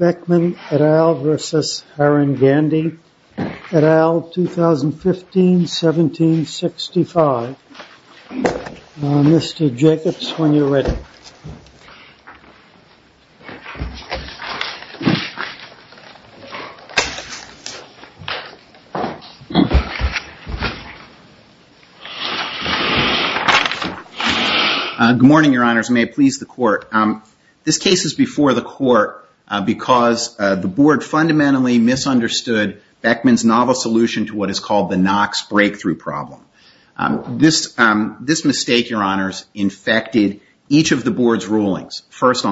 et al., 2015, 1765. Mr. Jacobs, when you're ready. Good morning, your honors. May it please the court. This case is before the court because the board fundamentally misunderstood Beckmann's novel solution to what is called the Knox first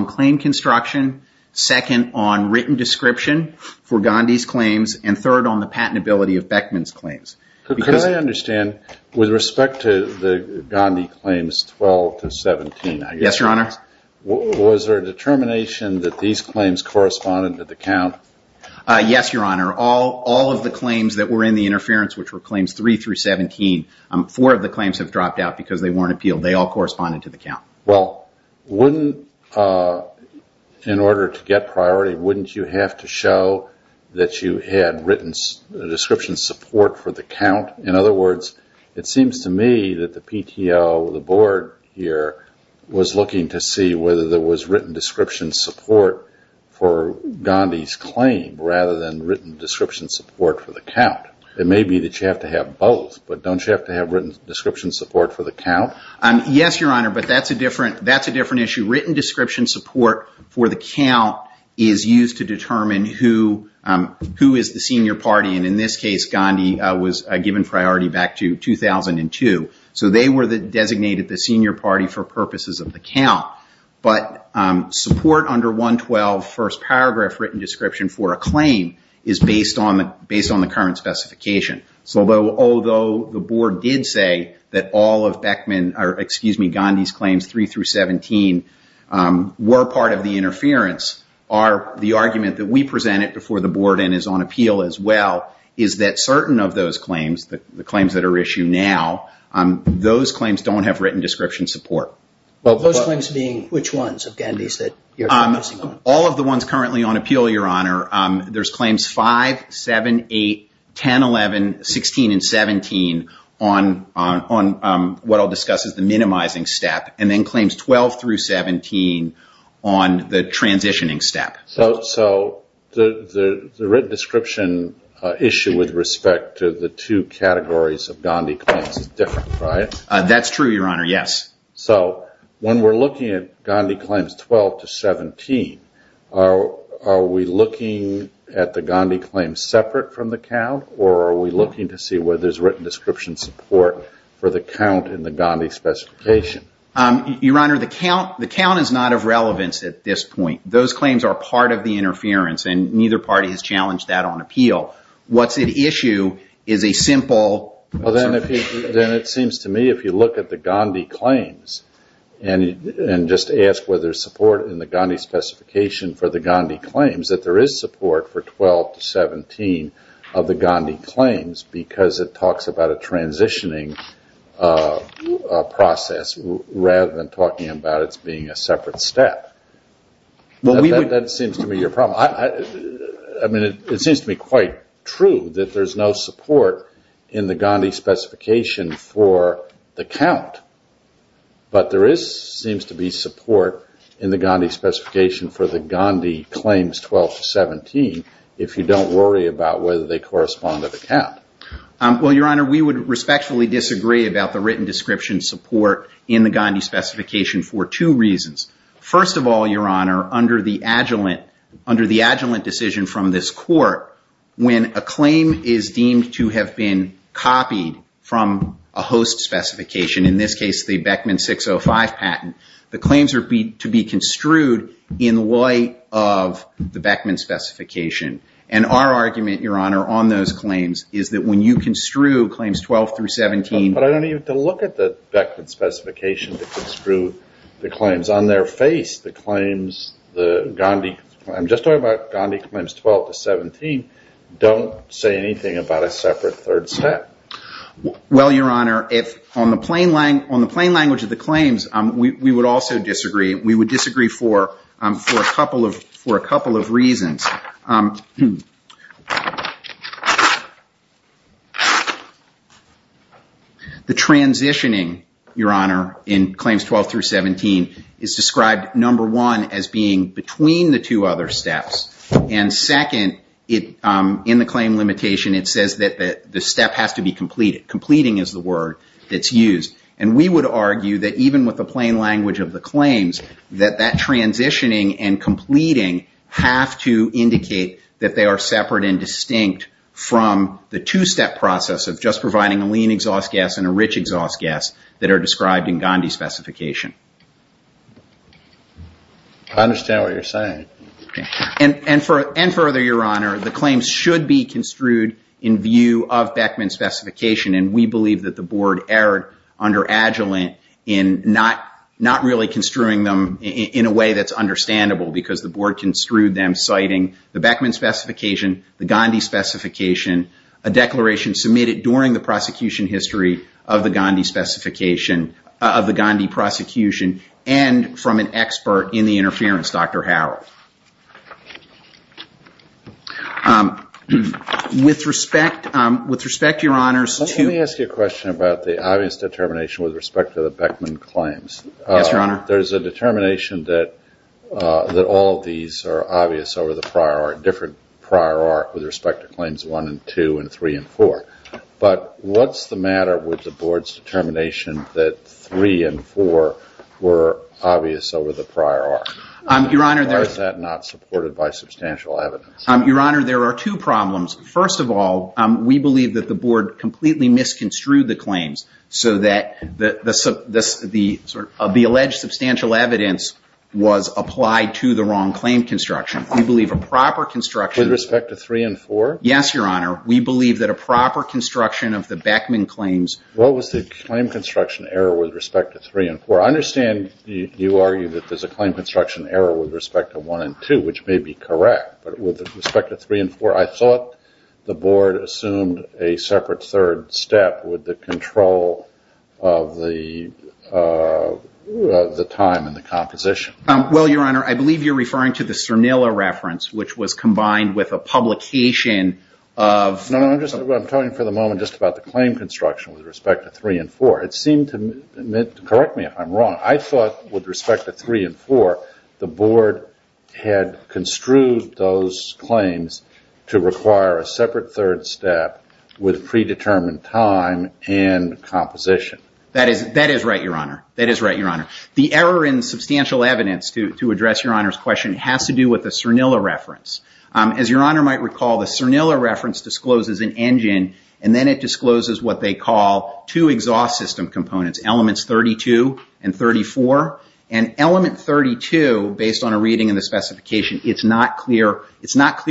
on claim construction, second on written description for Gandhi's claims, and third on the patentability of Beckmann's claims. Could I understand, with respect to the Gandhi claims 12 to 17, I guess. Yes, your honor. Was there a determination that these claims corresponded to the count? Yes, your honor. All of the claims that were in the interference, which were claims 3 through 17, four of the claims have dropped out because they weren't corresponding to the count. Well, wouldn't, in order to get priority, wouldn't you have to show that you had written description support for the count? In other words, it seems to me that the PTO, the board here, was looking to see whether there was written description support for Gandhi's claim rather than written description support for the count. It may be that you have to have both, but don't you have to have written description support for the count? Yes, your honor, but that's a different issue. Written description support for the count is used to determine who is the senior party, and in this case, Gandhi was given priority back to 2002. They were designated the senior party for purposes of the count, but support under 112 first paragraph written description for a claim is based on the current specification. Although the board did say that all of Gandhi's claims 3 through 17 were part of the interference, the argument that we presented before the board and is on appeal as well is that certain of those claims, the claims that are issued now, those claims don't have written description support. Those claims being which ones of Gandhi's that you're focusing on? All of the 10, 11, 16, and 17 on what I'll discuss as the minimizing step, and then claims 12 through 17 on the transitioning step. So the written description issue with respect to the two categories of Gandhi claims is different, right? That's true, your honor, yes. So when we're looking at the Gandhi claims separate from the count, or are we looking to see whether there's written description support for the count in the Gandhi specification? Your honor, the count is not of relevance at this point. Those claims are part of the interference, and neither party has challenged that on appeal. What's at issue is a simple... Well, then it seems to me if you look at the Gandhi claims and just ask whether there's support in the Gandhi specification for the Gandhi claims, that there is support for 12 to 17 of the Gandhi claims because it talks about a transitioning process rather than talking about its being a separate step. That seems to me your problem. I mean, it seems to me quite true that there's no support in the Gandhi specification for the count, but there seems to be support in the Gandhi specification for the Gandhi claims 12 to 17 if you don't worry about whether they correspond to the count. Well, your honor, we would respectfully disagree about the written description support in the Gandhi specification for two reasons. First of all, your honor, under the adjuvant decision from this court, when a host specification, in this case the Beckman 605 patent, the claims are to be construed in light of the Beckman specification. And our argument, your honor, on those claims is that when you construe claims 12 through 17... But I don't even have to look at the Beckman specification to construe the claims. On their face, the claims, the Gandhi... I'm just talking about Gandhi claims 12 to 17, don't say anything about a separate third step. Well, your honor, on the plain language of the claims, we would also disagree. We would disagree for a couple of reasons. The transitioning, your honor, in claims 12 through 17 is described, number one, as being between the other steps. And second, in the claim limitation, it says that the step has to be completed. Completing is the word that's used. And we would argue that even with the plain language of the claims, that that transitioning and completing have to indicate that they are separate and distinct from the two-step process of just providing a lean exhaust gas and a rich exhaust gas that are described in Gandhi specification. I understand what you're saying. And further, your honor, the claims should be construed in view of Beckman specification. And we believe that the board erred under Agilent in not really construing them in a way that's understandable because the board construed them citing the Beckman specification, the Gandhi specification, a declaration submitted during the prosecution history of the Gandhi prosecution, and from an expert in the interference, Dr. Harrell. With respect, your honors, to- Let me ask you a question about the obvious determination with respect to the Beckman claims. Yes, your honor. There's a determination that all of these are obvious over the prior, different prior arc with respect to claims one and two and three and four. But what's the matter with the board's determination that three and four were obvious over the prior arc? Your honor- Why is that not supported by substantial evidence? Your honor, there are two problems. First of all, we believe that the board completely misconstrued the claims so that the alleged substantial evidence was applied to the wrong claim construction. We believe a proper construction- With respect to three and four? Yes, your honor. We believe that a proper construction of the Beckman claims- What was the claim construction error with respect to three and four? I understand you argue that there's a claim construction error with respect to one and two, which may be correct. But with respect to three and four, I thought the board assumed a separate third step with the control of the time and the composition. Well, your honor, I believe you're referring to the Cernilla reference, which was combined with a publication of- I'm talking for the moment just about the claim construction with respect to three and four. It seemed to me- Correct me if I'm wrong. I thought with respect to three and four, the board had construed those claims to require a separate third step with predetermined time and composition. That is right, your honor. That is right, your honor. The error in substantial evidence to address your honor's question has to do with the Cernilla reference. As your honor might recall, the Cernilla reference discloses an engine, and then it discloses what they call two exhaust system components, elements 32 and 34. Element 32, based on a reading in the specification, it's not clear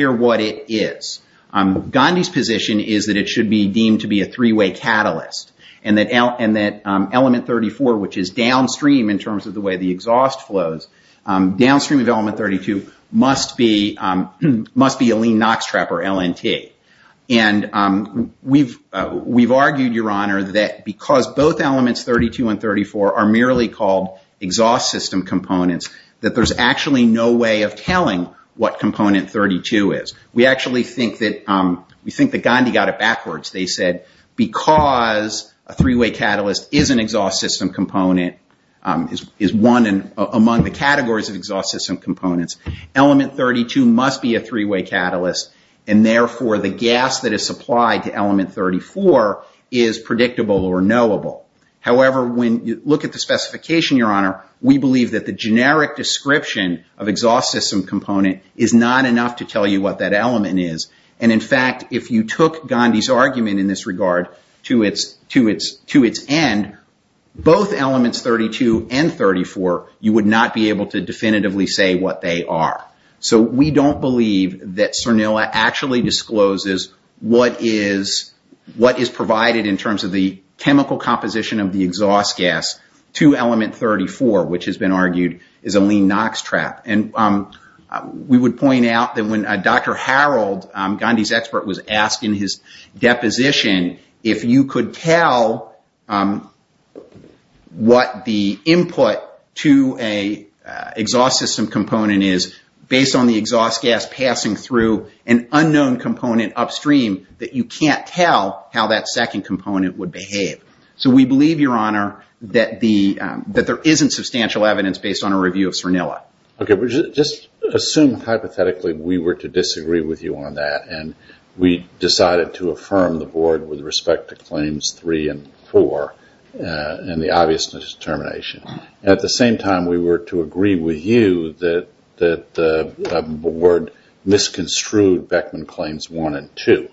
what it is. Gandhi's position is that it should be deemed to be a three-way catalyst, and that element 34, which is downstream in terms of the way the exhaust flows, downstream of element 32 must be a lean NOx trap or LNT. We've argued, your honor, that because both elements 32 and 34 are merely called exhaust system components, that there's actually no way of telling what component 32 is. We actually think that Gandhi got it backwards. They said, because a three-way catalyst is an exhaust system component, is one among the categories of exhaust system components, element 32 must be a three-way catalyst, and therefore the gas that is supplied to element 34 is predictable or knowable. However, when you look at the specification, your honor, we believe that the generic description of exhaust system component is not enough to tell you what that element is. In fact, if you took Gandhi's argument in this regard to its end, both elements 32 and 34, you would not be able to definitively say what they are. We don't believe that Cernula actually discloses what is provided in terms of the chemical composition of the exhaust gas to element 34, which has been argued is a lean NOx trap. We would point out that when Dr. Harold, Gandhi's asking his deposition, if you could tell what the input to a exhaust system component is, based on the exhaust gas passing through an unknown component upstream, that you can't tell how that second component would behave. So we believe, your honor, that there isn't substantial evidence based on a review of Cernula. Okay, but just assume hypothetically we were to disagree with you on that and we decided to affirm the board with respect to claims three and four and the obvious determination. At the same time, we were to agree with you that the board misconstrued Beckman claims one and two,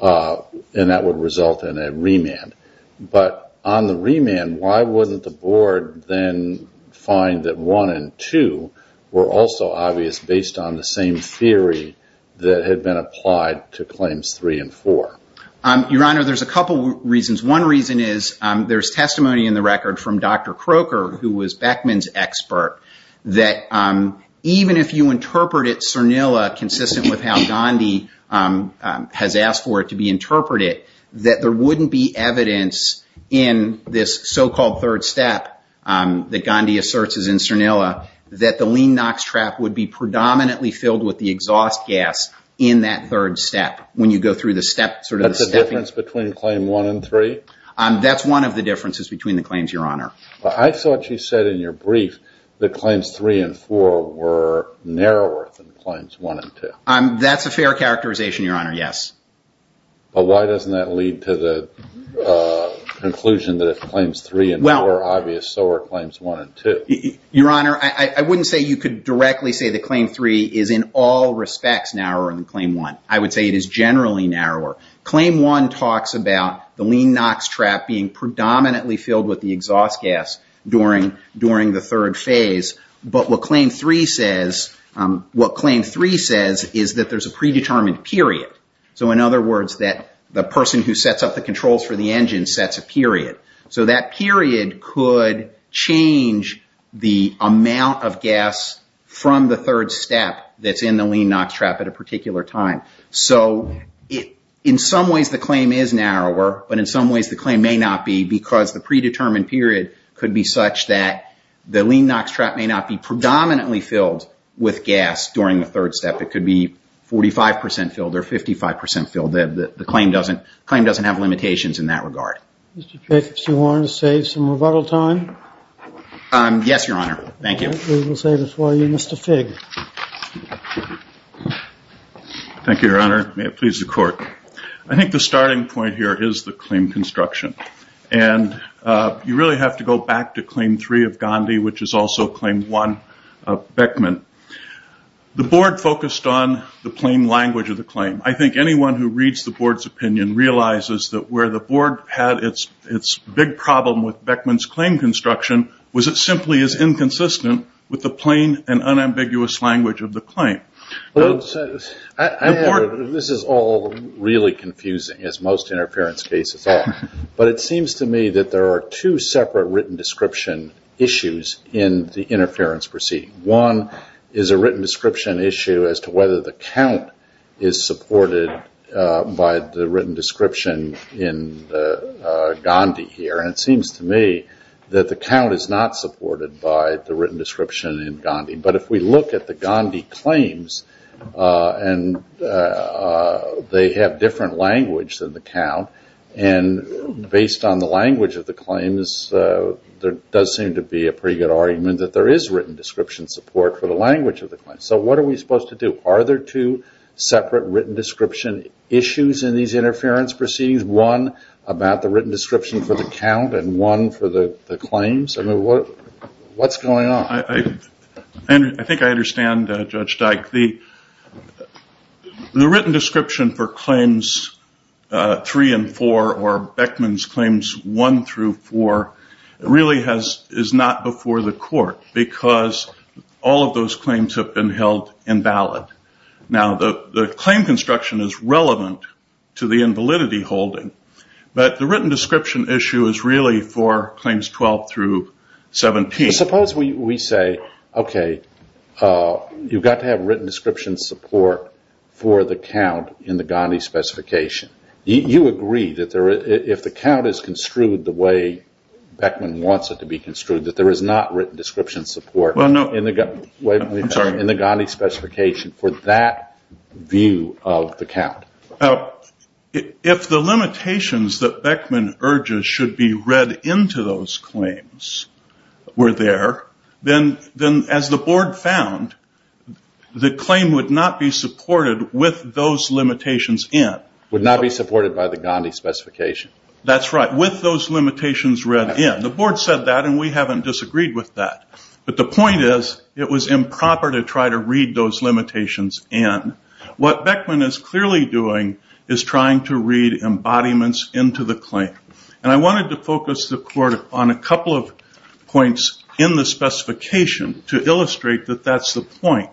and that would result in a remand. But on the remand, why wouldn't the board then find that one and two were also obvious based on the same theory that had been applied to claims three and four? Your honor, there's a couple reasons. One reason is there's testimony in the record from Dr. Croker, who was Beckman's expert, that even if you interpret it, Cernula, consistent with how Gandhi has asked for it to be interpreted, that there wouldn't be evidence in this so-called third step that Gandhi asserts is in Cernula, that the lean NOx trap would be predominantly filled with the exhaust gas in that third step. When you go through the step, sort of the stepping... That's the difference between claim one and three? That's one of the differences between the claims, your honor. But I thought you said in your brief that claims three and four were narrower than claims one and two. That's a fair characterization, your honor, yes. But why doesn't that lead to the conclusion that if claims three and four are obvious, so are claims one and two? Your honor, I wouldn't say you could directly say that claim three is in all respects narrower than claim one. I would say it is generally narrower. Claim one talks about the lean NOx trap being predominantly filled with the exhaust gas during the third phase. But what claim three says is that there's a predetermined period. In other words, the person who sets up the controls for the engine sets a period. That period could change the amount of gas from the third step that's in the lean NOx trap at a particular time. In some ways, the claim is narrower, but in some ways, the claim may not be because the predetermined period could be such that the lean NOx trap may not be predominantly filled with gas during the third step. It could be 45% filled or 55% filled. The claim doesn't have limitations in that regard. Mr. Figg, if you want to save some rebuttal time. Yes, your honor. Thank you. We will save it for you, Mr. Figg. Thank you, your honor. May it please the court. I think the starting point here is the claim construction. And you really have to go back to claim three of Gandhi, which is also claim one. Beckman. The board focused on the plain language of the claim. I think anyone who reads the board's opinion realizes that where the board had its big problem with Beckman's claim construction, was it simply as inconsistent with the plain and unambiguous language of the claim. This is all really confusing, as most interference cases are. But it seems to me that there are two written description issues in the interference proceeding. One is a written description issue as to whether the count is supported by the written description in Gandhi here. And it seems to me that the count is not supported by the written description in Gandhi. But if we look at the Gandhi claims, and they have different language than the count. And based on the claims, there does seem to be a pretty good argument that there is written description support for the language of the claim. So what are we supposed to do? Are there two separate written description issues in these interference proceedings? One about the written description for the count and one for the claims? I mean, what's going on? I think I understand, Judge Dyke. The written description for claims three and four, or Beckman's claims one through four, really is not before the court. Because all of those claims have been held invalid. Now, the claim construction is relevant to the invalidity holding. But the written description issue is really for claims 12 through 17. Suppose we say, okay, you've got to have written description support for the count in the Gandhi specification. You agree that if the count is construed the way Beckman wants it to be construed, that there is not written description support in the Gandhi specification for that view of the count? Now, if the limitations that Beckman urges should be read into those claims were there, then as the board found, the claim would not be supported with those limitations in. Would not be supported by the Gandhi specification. That's right. With those limitations read in. The board said that and we haven't disagreed with that. But the point is, it was improper to try to read those limitations in. What Beckman is clearly doing is trying to read embodiments into the claim. And I wanted to focus the court on a couple of points in the specification to illustrate that that's the point.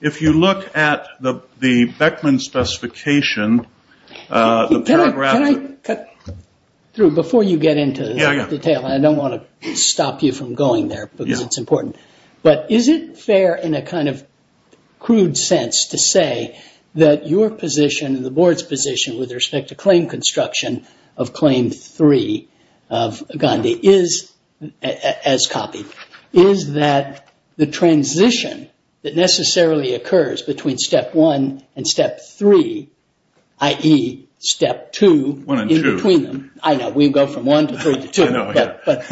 If you look at the Beckman specification. Can I cut through before you get into the detail? I don't want to stop you from going there because it's important. But is it fair in a kind of your position and the board's position with respect to claim construction of claim three of Gandhi is, as copied, is that the transition that necessarily occurs between step one and step three, i.e. step two. One and two. I know, we go from one to three to two. But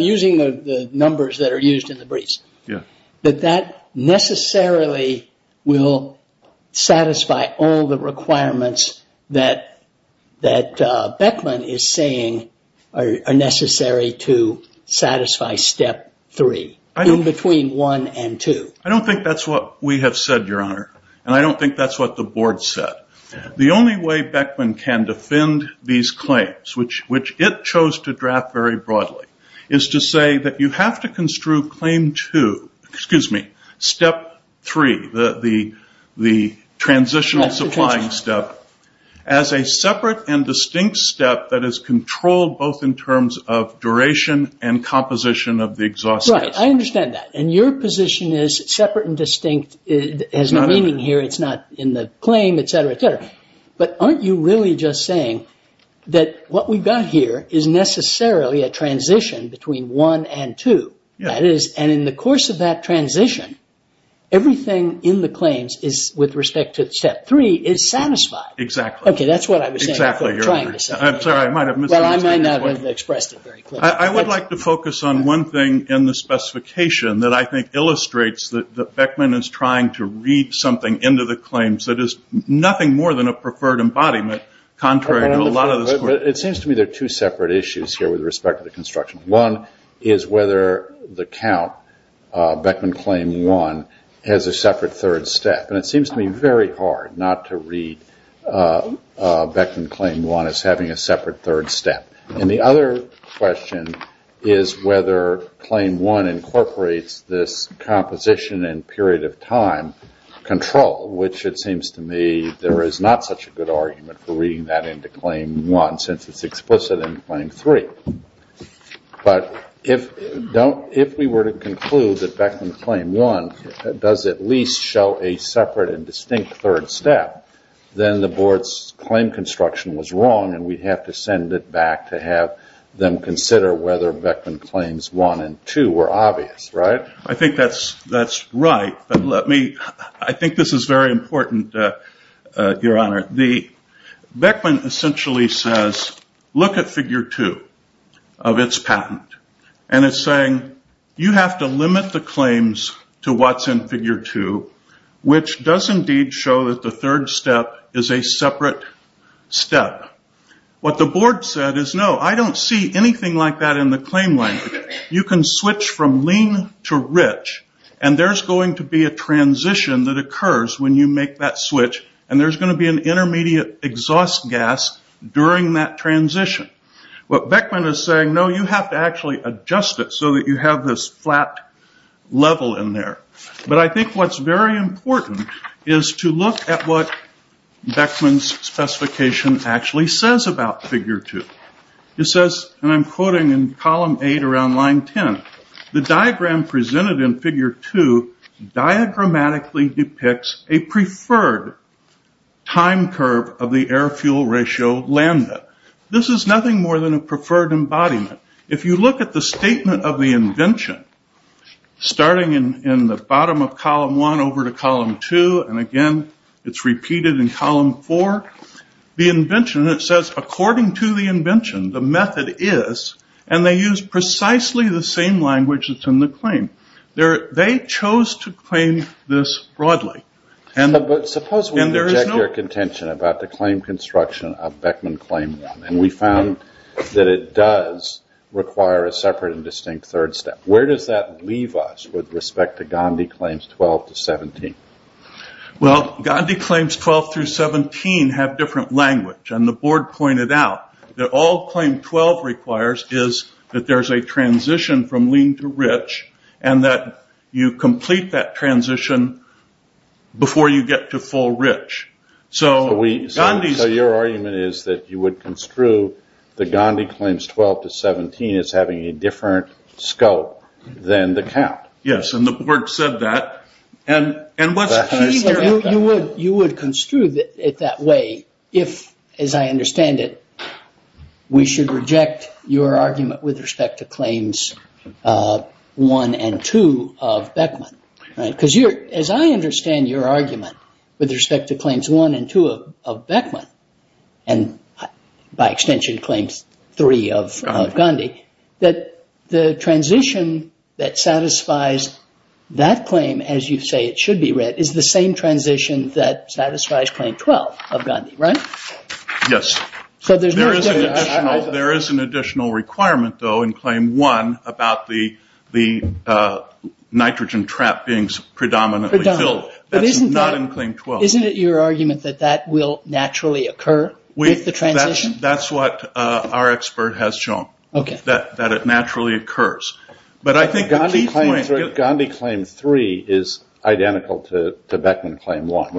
using the numbers that are used in the briefs. But that necessarily will satisfy all the requirements that Beckman is saying are necessary to satisfy step three. In between one and two. I don't think that's what we have said, Your Honor. And I don't think that's what the board said. The only way Beckman can defend these claims, which it chose to draft very broadly, is to say that you have to construe claim two, excuse me, step three, the transitional supplying step, as a separate and distinct step that is controlled both in terms of duration and composition of the exhaust gas. Right. I understand that. And your position is separate and distinct has no meaning here. It's not in the claim, etc., etc. But aren't you really just saying that what we've got here is necessarily a transition between one and two. That is, and in the course of that transition, everything in the claims is, with respect to step three, is satisfied. Exactly. Okay, that's what I was saying. I'm sorry, I might have misunderstood. Well, I might not have expressed it very clearly. I would like to focus on one thing in the specification that I think illustrates that Beckman is trying to read something into the preferred embodiment, contrary to a lot of this work. It seems to me there are two separate issues here with respect to the construction. One is whether the count, Beckman claim one, has a separate third step. And it seems to me very hard not to read Beckman claim one as having a separate third step. And the other question is whether claim one incorporates this composition and period of time control, which it seems to me there is not such a good argument for reading that into claim one since it's explicit in claim three. But if we were to conclude that Beckman claim one does at least show a separate and distinct third step, then the board's claim construction was wrong and we'd have to send it back to have them consider whether Beckman claims one and two were obvious, right? I think that's right. I think this is very important, Your Honor. Beckman essentially says, look at figure two of its patent. And it's saying you have to limit the claims to what's in figure two, which does indeed show that the third step is a separate step. What the board said is, no, I don't see anything like that in the claim language. You can switch from lean to rich and there's going to be a transition that occurs when you make that switch and there's going to be an intermediate exhaust gas during that transition. What Beckman is saying, no, you have to actually adjust it so that you have this flat level in there. But I think what's very important is to look at what Beckman's specification actually says about figure two. It says, and I'm quoting in column eight around line 10, the diagram presented in figure two diagrammatically depicts a preferred time curve of the air fuel ratio lambda. This is nothing more than a preferred embodiment. If you look at the statement of the invention, starting in the bottom of column one over to column two, and again, it's repeated in column four, the invention, it says, according to the invention, the method is, and they use precisely the same language that's in the claim. They chose to claim this broadly. Suppose we object to your contention about the claim construction of Beckman claim one, and we found that it does require a separate and distinct third step. Where does that leave us with respect to Gandhi claims 12 to 17? Well, Gandhi claims 12 through 17 have different language. The board pointed out that all claim 12 requires is that there's a transition from lean to rich, and that you complete that transition before you get to full rich. Your argument is that you would construe the Gandhi claims 12 to 17 as having a different scope than the count. Yes, and the board said that. You would construe it that way if, as I understand it, we should reject your argument with respect to claims one and two of Beckman. Because as I understand your argument with respect to claims one and two of Beckman, and by extension claims three of Gandhi, that the transition that satisfies that claim, as you say it should be read, is the same transition that satisfies claim 12 of Gandhi, right? Yes. There is an additional requirement, though, in claim one about the nitrogen trap being predominantly filled. That's not in claim 12. Isn't it your argument that that will naturally occur with the transition? That's what our expert has shown, that it naturally occurs. Gandhi claim three is identical to Beckman claim one,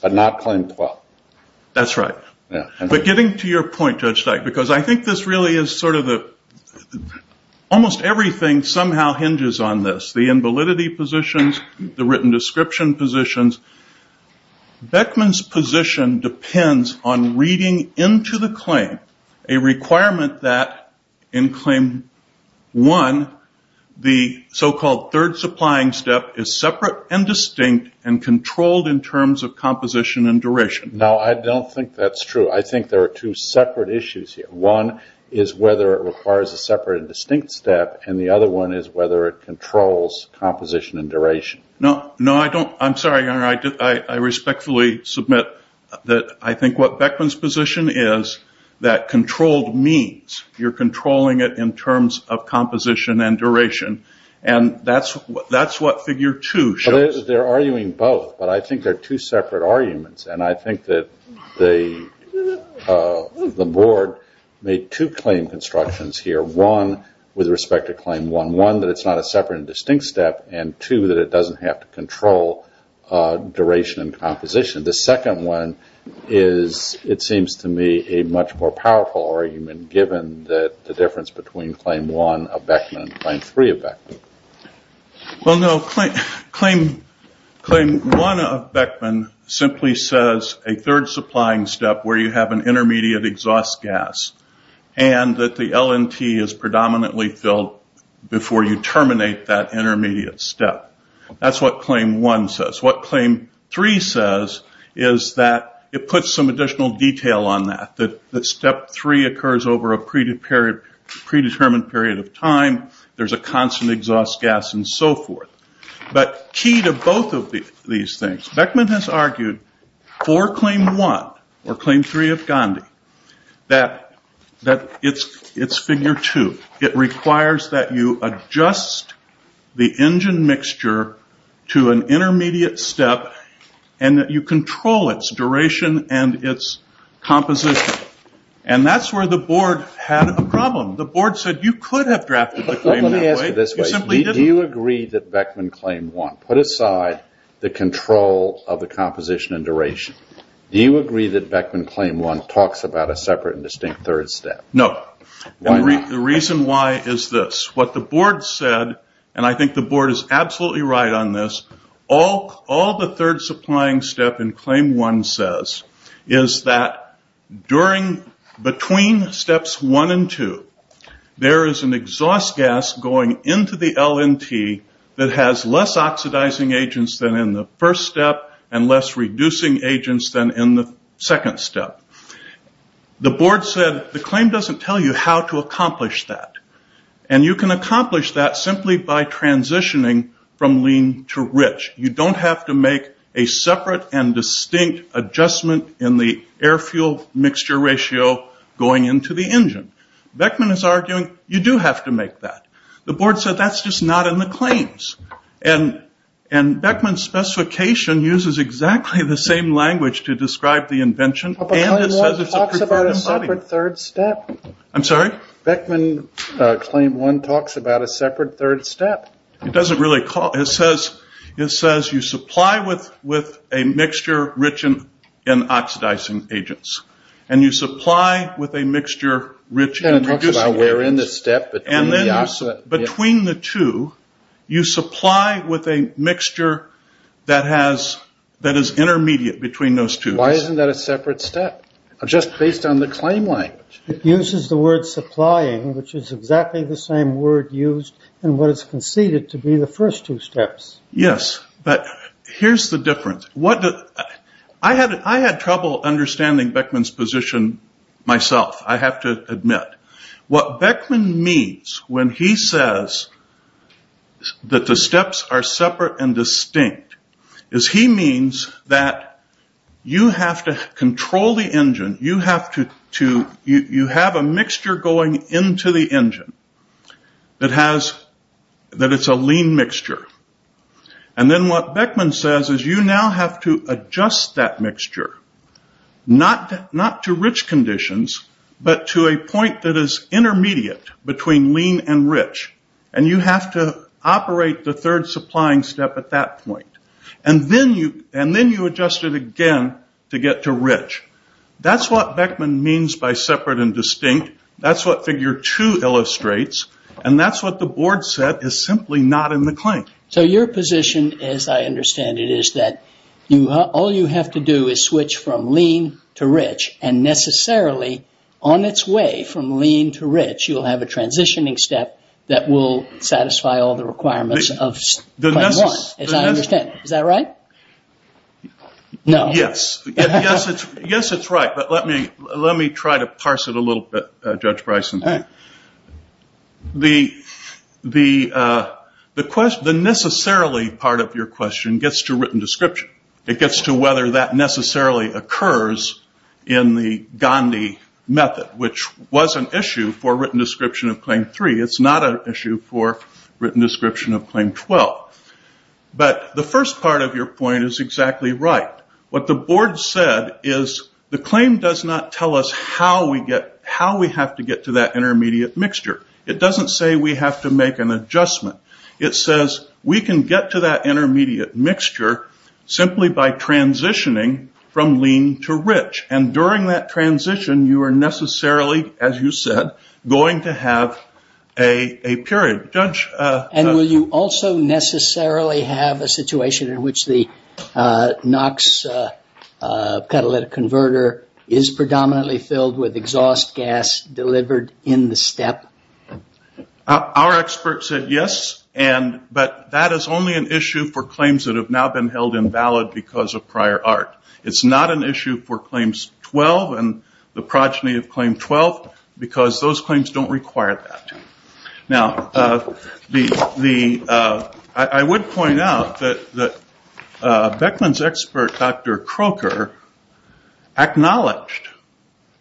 but not claim 12. That's right. But getting to your point, Judge Dyke, because I think this really is sort of the, almost everything somehow hinges on this. The invalidity positions, the written description positions. Beckman's position depends on reading into the claim a requirement that in claim one, the so-called third supplying step is separate and distinct and controlled in terms of composition and duration. No, I don't think that's true. I think there are two separate issues here. One is whether it requires a separate and distinct step, and the other one is whether it controls composition and duration. No, I don't. I'm sorry. I respectfully submit that I think what Beckman's position is that controlled means you're controlling it in terms of composition and duration, and that's what figure two shows. They're arguing both, but I think they're two separate arguments, and I think that the board made two claim constructions here. One, with respect to claim one, one that it's not a separate and distinct step, and two, that it doesn't have to control duration and composition. The second one is, it seems to me, a much more powerful argument given that the difference between claim one of Beckman and claim three of Beckman. Well, no. Claim one of Beckman simply says a third supplying step where you have an intermediate exhaust gas, and that the LNT is predominantly filled before you terminate that intermediate step. That's what claim one says. What claim three says is that it puts some additional detail on that, that step three occurs over a predetermined period of time. There's a constant exhaust gas and so forth, but key to both of these things. Beckman has argued for claim one, or claim three of Gandhi, that it's figure two. It requires that you adjust the engine mixture to an intermediate step, and that you control its duration and its composition. That's where the board had a problem. The board said, you could have drafted the claim that way. You simply didn't. Let me ask you this way. Do you agree that Beckman claim one, put aside the control of the composition and duration, do you agree that Beckman claim one talks about a separate and distinct third step? No. Why not? The reason why is this. What the board said, and I think the board is absolutely right on this, all the third supplying step in claim one says is that between steps one and two, there is an exhaust gas going into the LNT that has less oxidizing agents than in the first step, and less reducing agents than in the second step. The board said, the claim doesn't tell you how to accomplish that. You can accomplish that simply by transitioning from lean to distinct adjustment in the air fuel mixture ratio going into the engine. Beckman is arguing, you do have to make that. The board said, that's just not in the claims. Beckman's specification uses exactly the same language to describe the invention. But claim one talks about a separate third step. I'm sorry? Beckman claim one talks about a separate third step. It doesn't really call, it says you supply with a mixture rich in oxidizing agents, and you supply with a mixture rich in reducing agents, and then between the two, you supply with a mixture that has, that is intermediate between those two. Why isn't that a separate step? Just based on the claim language. It uses the word supplying, which is exactly the same word used in what is conceded to be the first two steps. Yes, but here's the difference. I had trouble understanding Beckman's position myself, I have to admit. What Beckman means when he says that the steps are separate and distinct, is he means that you have to control the engine. You have to, you have a mixture going into the engine that has, that it's a lean mixture. And then what Beckman says is you now have to adjust that mixture, not to rich conditions, but to a point that is intermediate between lean and rich. And then you adjust it again to get to rich. That's what Beckman means by separate and distinct, that's what figure two illustrates, and that's what the board said is simply not in the claim. So your position, as I understand it, is that all you have to do is switch from lean to rich, and necessarily on its way from lean to rich, you'll have a transitioning step that will lead to a transition. Is that right? No. Yes. Yes, it's right, but let me try to parse it a little bit, Judge Bryson. The necessarily part of your question gets to written description. It gets to whether that necessarily occurs in the Gandhi method, which was an issue for written description of claim three. It's not an issue for written description of claim 12. But the first part of your point is exactly right. What the board said is the claim does not tell us how we have to get to that intermediate mixture. It doesn't say we have to make an adjustment. It says we can get to that intermediate mixture simply by transitioning from lean to rich. And during that transition, you are necessarily, as you said, going to have a period. And will you also necessarily have a situation in which the NOx catalytic converter is predominantly filled with exhaust gas delivered in the step? Our experts said yes, but that is only an issue for claims that have now been held invalid because of prior art. It's not an issue for claims 12 and the progeny of claim 12, because those claims don't require that. Now, I would point out that Beckman's expert, Dr. Croker, acknowledged,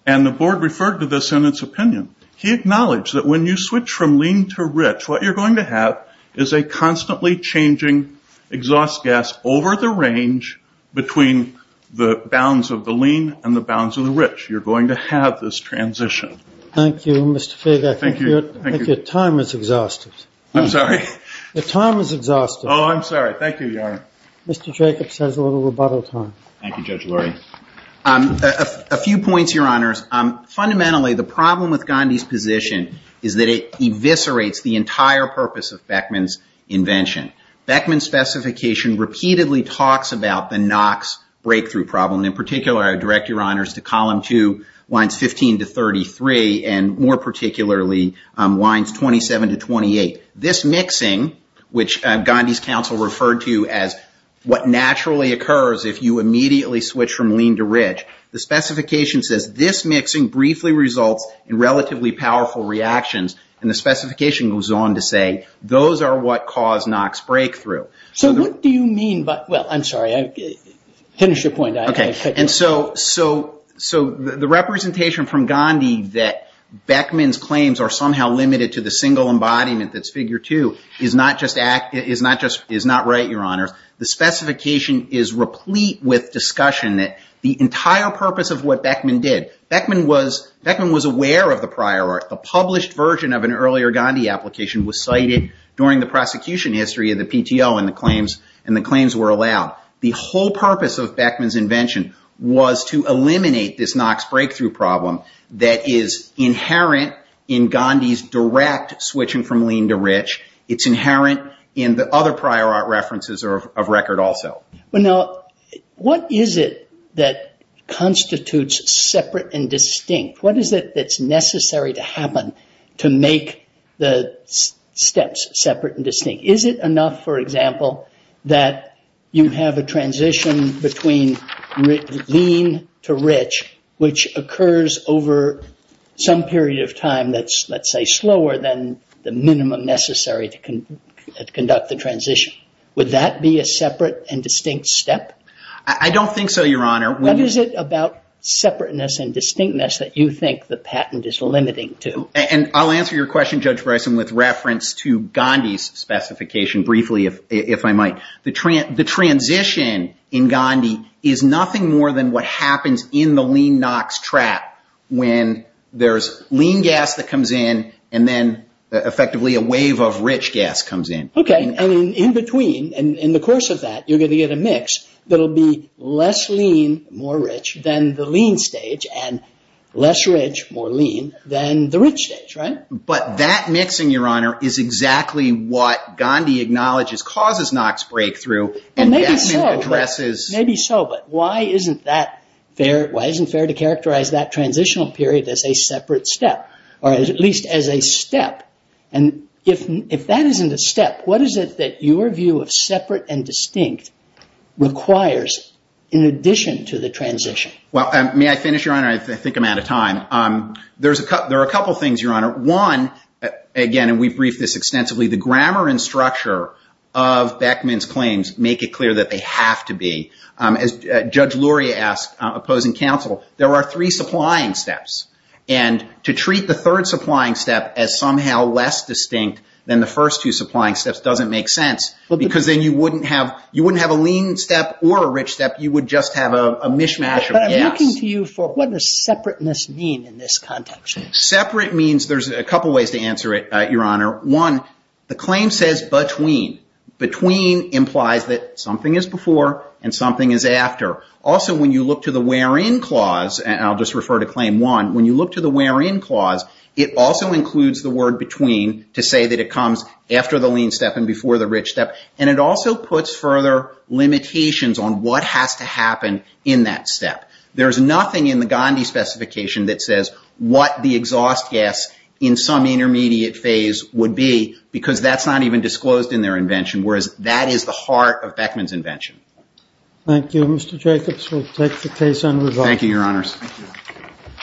and the board referred to this in its opinion, he acknowledged that when you switch from lean to rich, what you're going to have is a constantly changing exhaust gas over the range between the bounds of the lean and the bounds of the rich. You're going to have this transition. Thank you, Mr. Fager. I think your time is exhausted. I'm sorry? Your time is exhausted. Oh, I'm sorry. Thank you, Your Honor. Mr. Jacobs has a little rebuttal time. Thank you, Judge Lurie. A few points, Your Honors. Fundamentally, the problem with Gandhi's position is that it eviscerates the entire purpose of Beckman's invention. Beckman's specification repeatedly talks about the NOx breakthrough problem. In particular, I direct Your Honors to column two, lines 15 to 33, and more particularly, lines 27 to 28. This mixing, which Gandhi's counsel referred to as what naturally occurs if you immediately switch from lean to rich, the specification says, this mixing briefly results in relatively powerful reactions, and the specification goes on to say, those are what cause NOx breakthrough. So what do you mean by, well, I'm sorry, finish your point. And so the representation from Gandhi that Beckman's claims are somehow limited to the single embodiment that's figure two is not right, Your Honors. The specification is replete with discussion that the entire purpose of what Beckman did, Beckman was aware of the prior art. The published version of an earlier Gandhi application was cited during the prosecution history of the was to eliminate this NOx breakthrough problem that is inherent in Gandhi's direct switching from lean to rich. It's inherent in the other prior art references of record also. What is it that constitutes separate and distinct? What is it that's necessary to happen to make the steps separate and distinct? Is it enough, for example, that you have a transition between lean to rich, which occurs over some period of time that's, let's say, slower than the minimum necessary to conduct the transition. Would that be a separate and distinct step? I don't think so, Your Honor. What is it about separateness and distinctness that you think the patent is limiting to? And I'll answer your question, Judge Bryson, with reference to Gandhi's specification briefly, if I might. The transition in Gandhi is nothing more than what happens in the lean NOx trap when there's lean gas that comes in, and then effectively a wave of rich gas comes in. Okay. And in between, in the course of that, you're going to get a mix that'll be less lean, more rich, than the lean stage, and less rich, more lean, than the rich stage, right? But that mixing, Your Honor, is exactly what Gandhi acknowledges causes NOx breakthrough. Maybe so, but why isn't it fair to characterize that transitional period as a separate step, or at least as a step? And if that isn't a step, what is it that your view of separate and distinct requires in addition to the transition? Well, may I finish, Your Honor? I think I'm out of time. There are a couple things, one, again, and we've briefed this extensively, the grammar and structure of Beckman's claims make it clear that they have to be. As Judge Luria asked opposing counsel, there are three supplying steps, and to treat the third supplying step as somehow less distinct than the first two supplying steps doesn't make sense, because then you wouldn't have a lean step or a rich step, you would just have a mishmash of gas. But I'm looking to you for what does separateness mean in this context? Separate means, there's a couple ways to answer it, Your Honor. One, the claim says between. Between implies that something is before and something is after. Also, when you look to the wherein clause, and I'll just refer to claim one, when you look to the wherein clause, it also includes the word between to say that it comes after the lean step and before the rich step, and it also puts further limitations on what has to happen in that step. There's nothing in the Gandhi specification that says what the exhaust gas in some intermediate phase would be, because that's not even disclosed in their invention, whereas that is the heart of Beckman's invention. Thank you, Mr. Jacobs. We'll take the case unresolved. Thank you, Your Honors.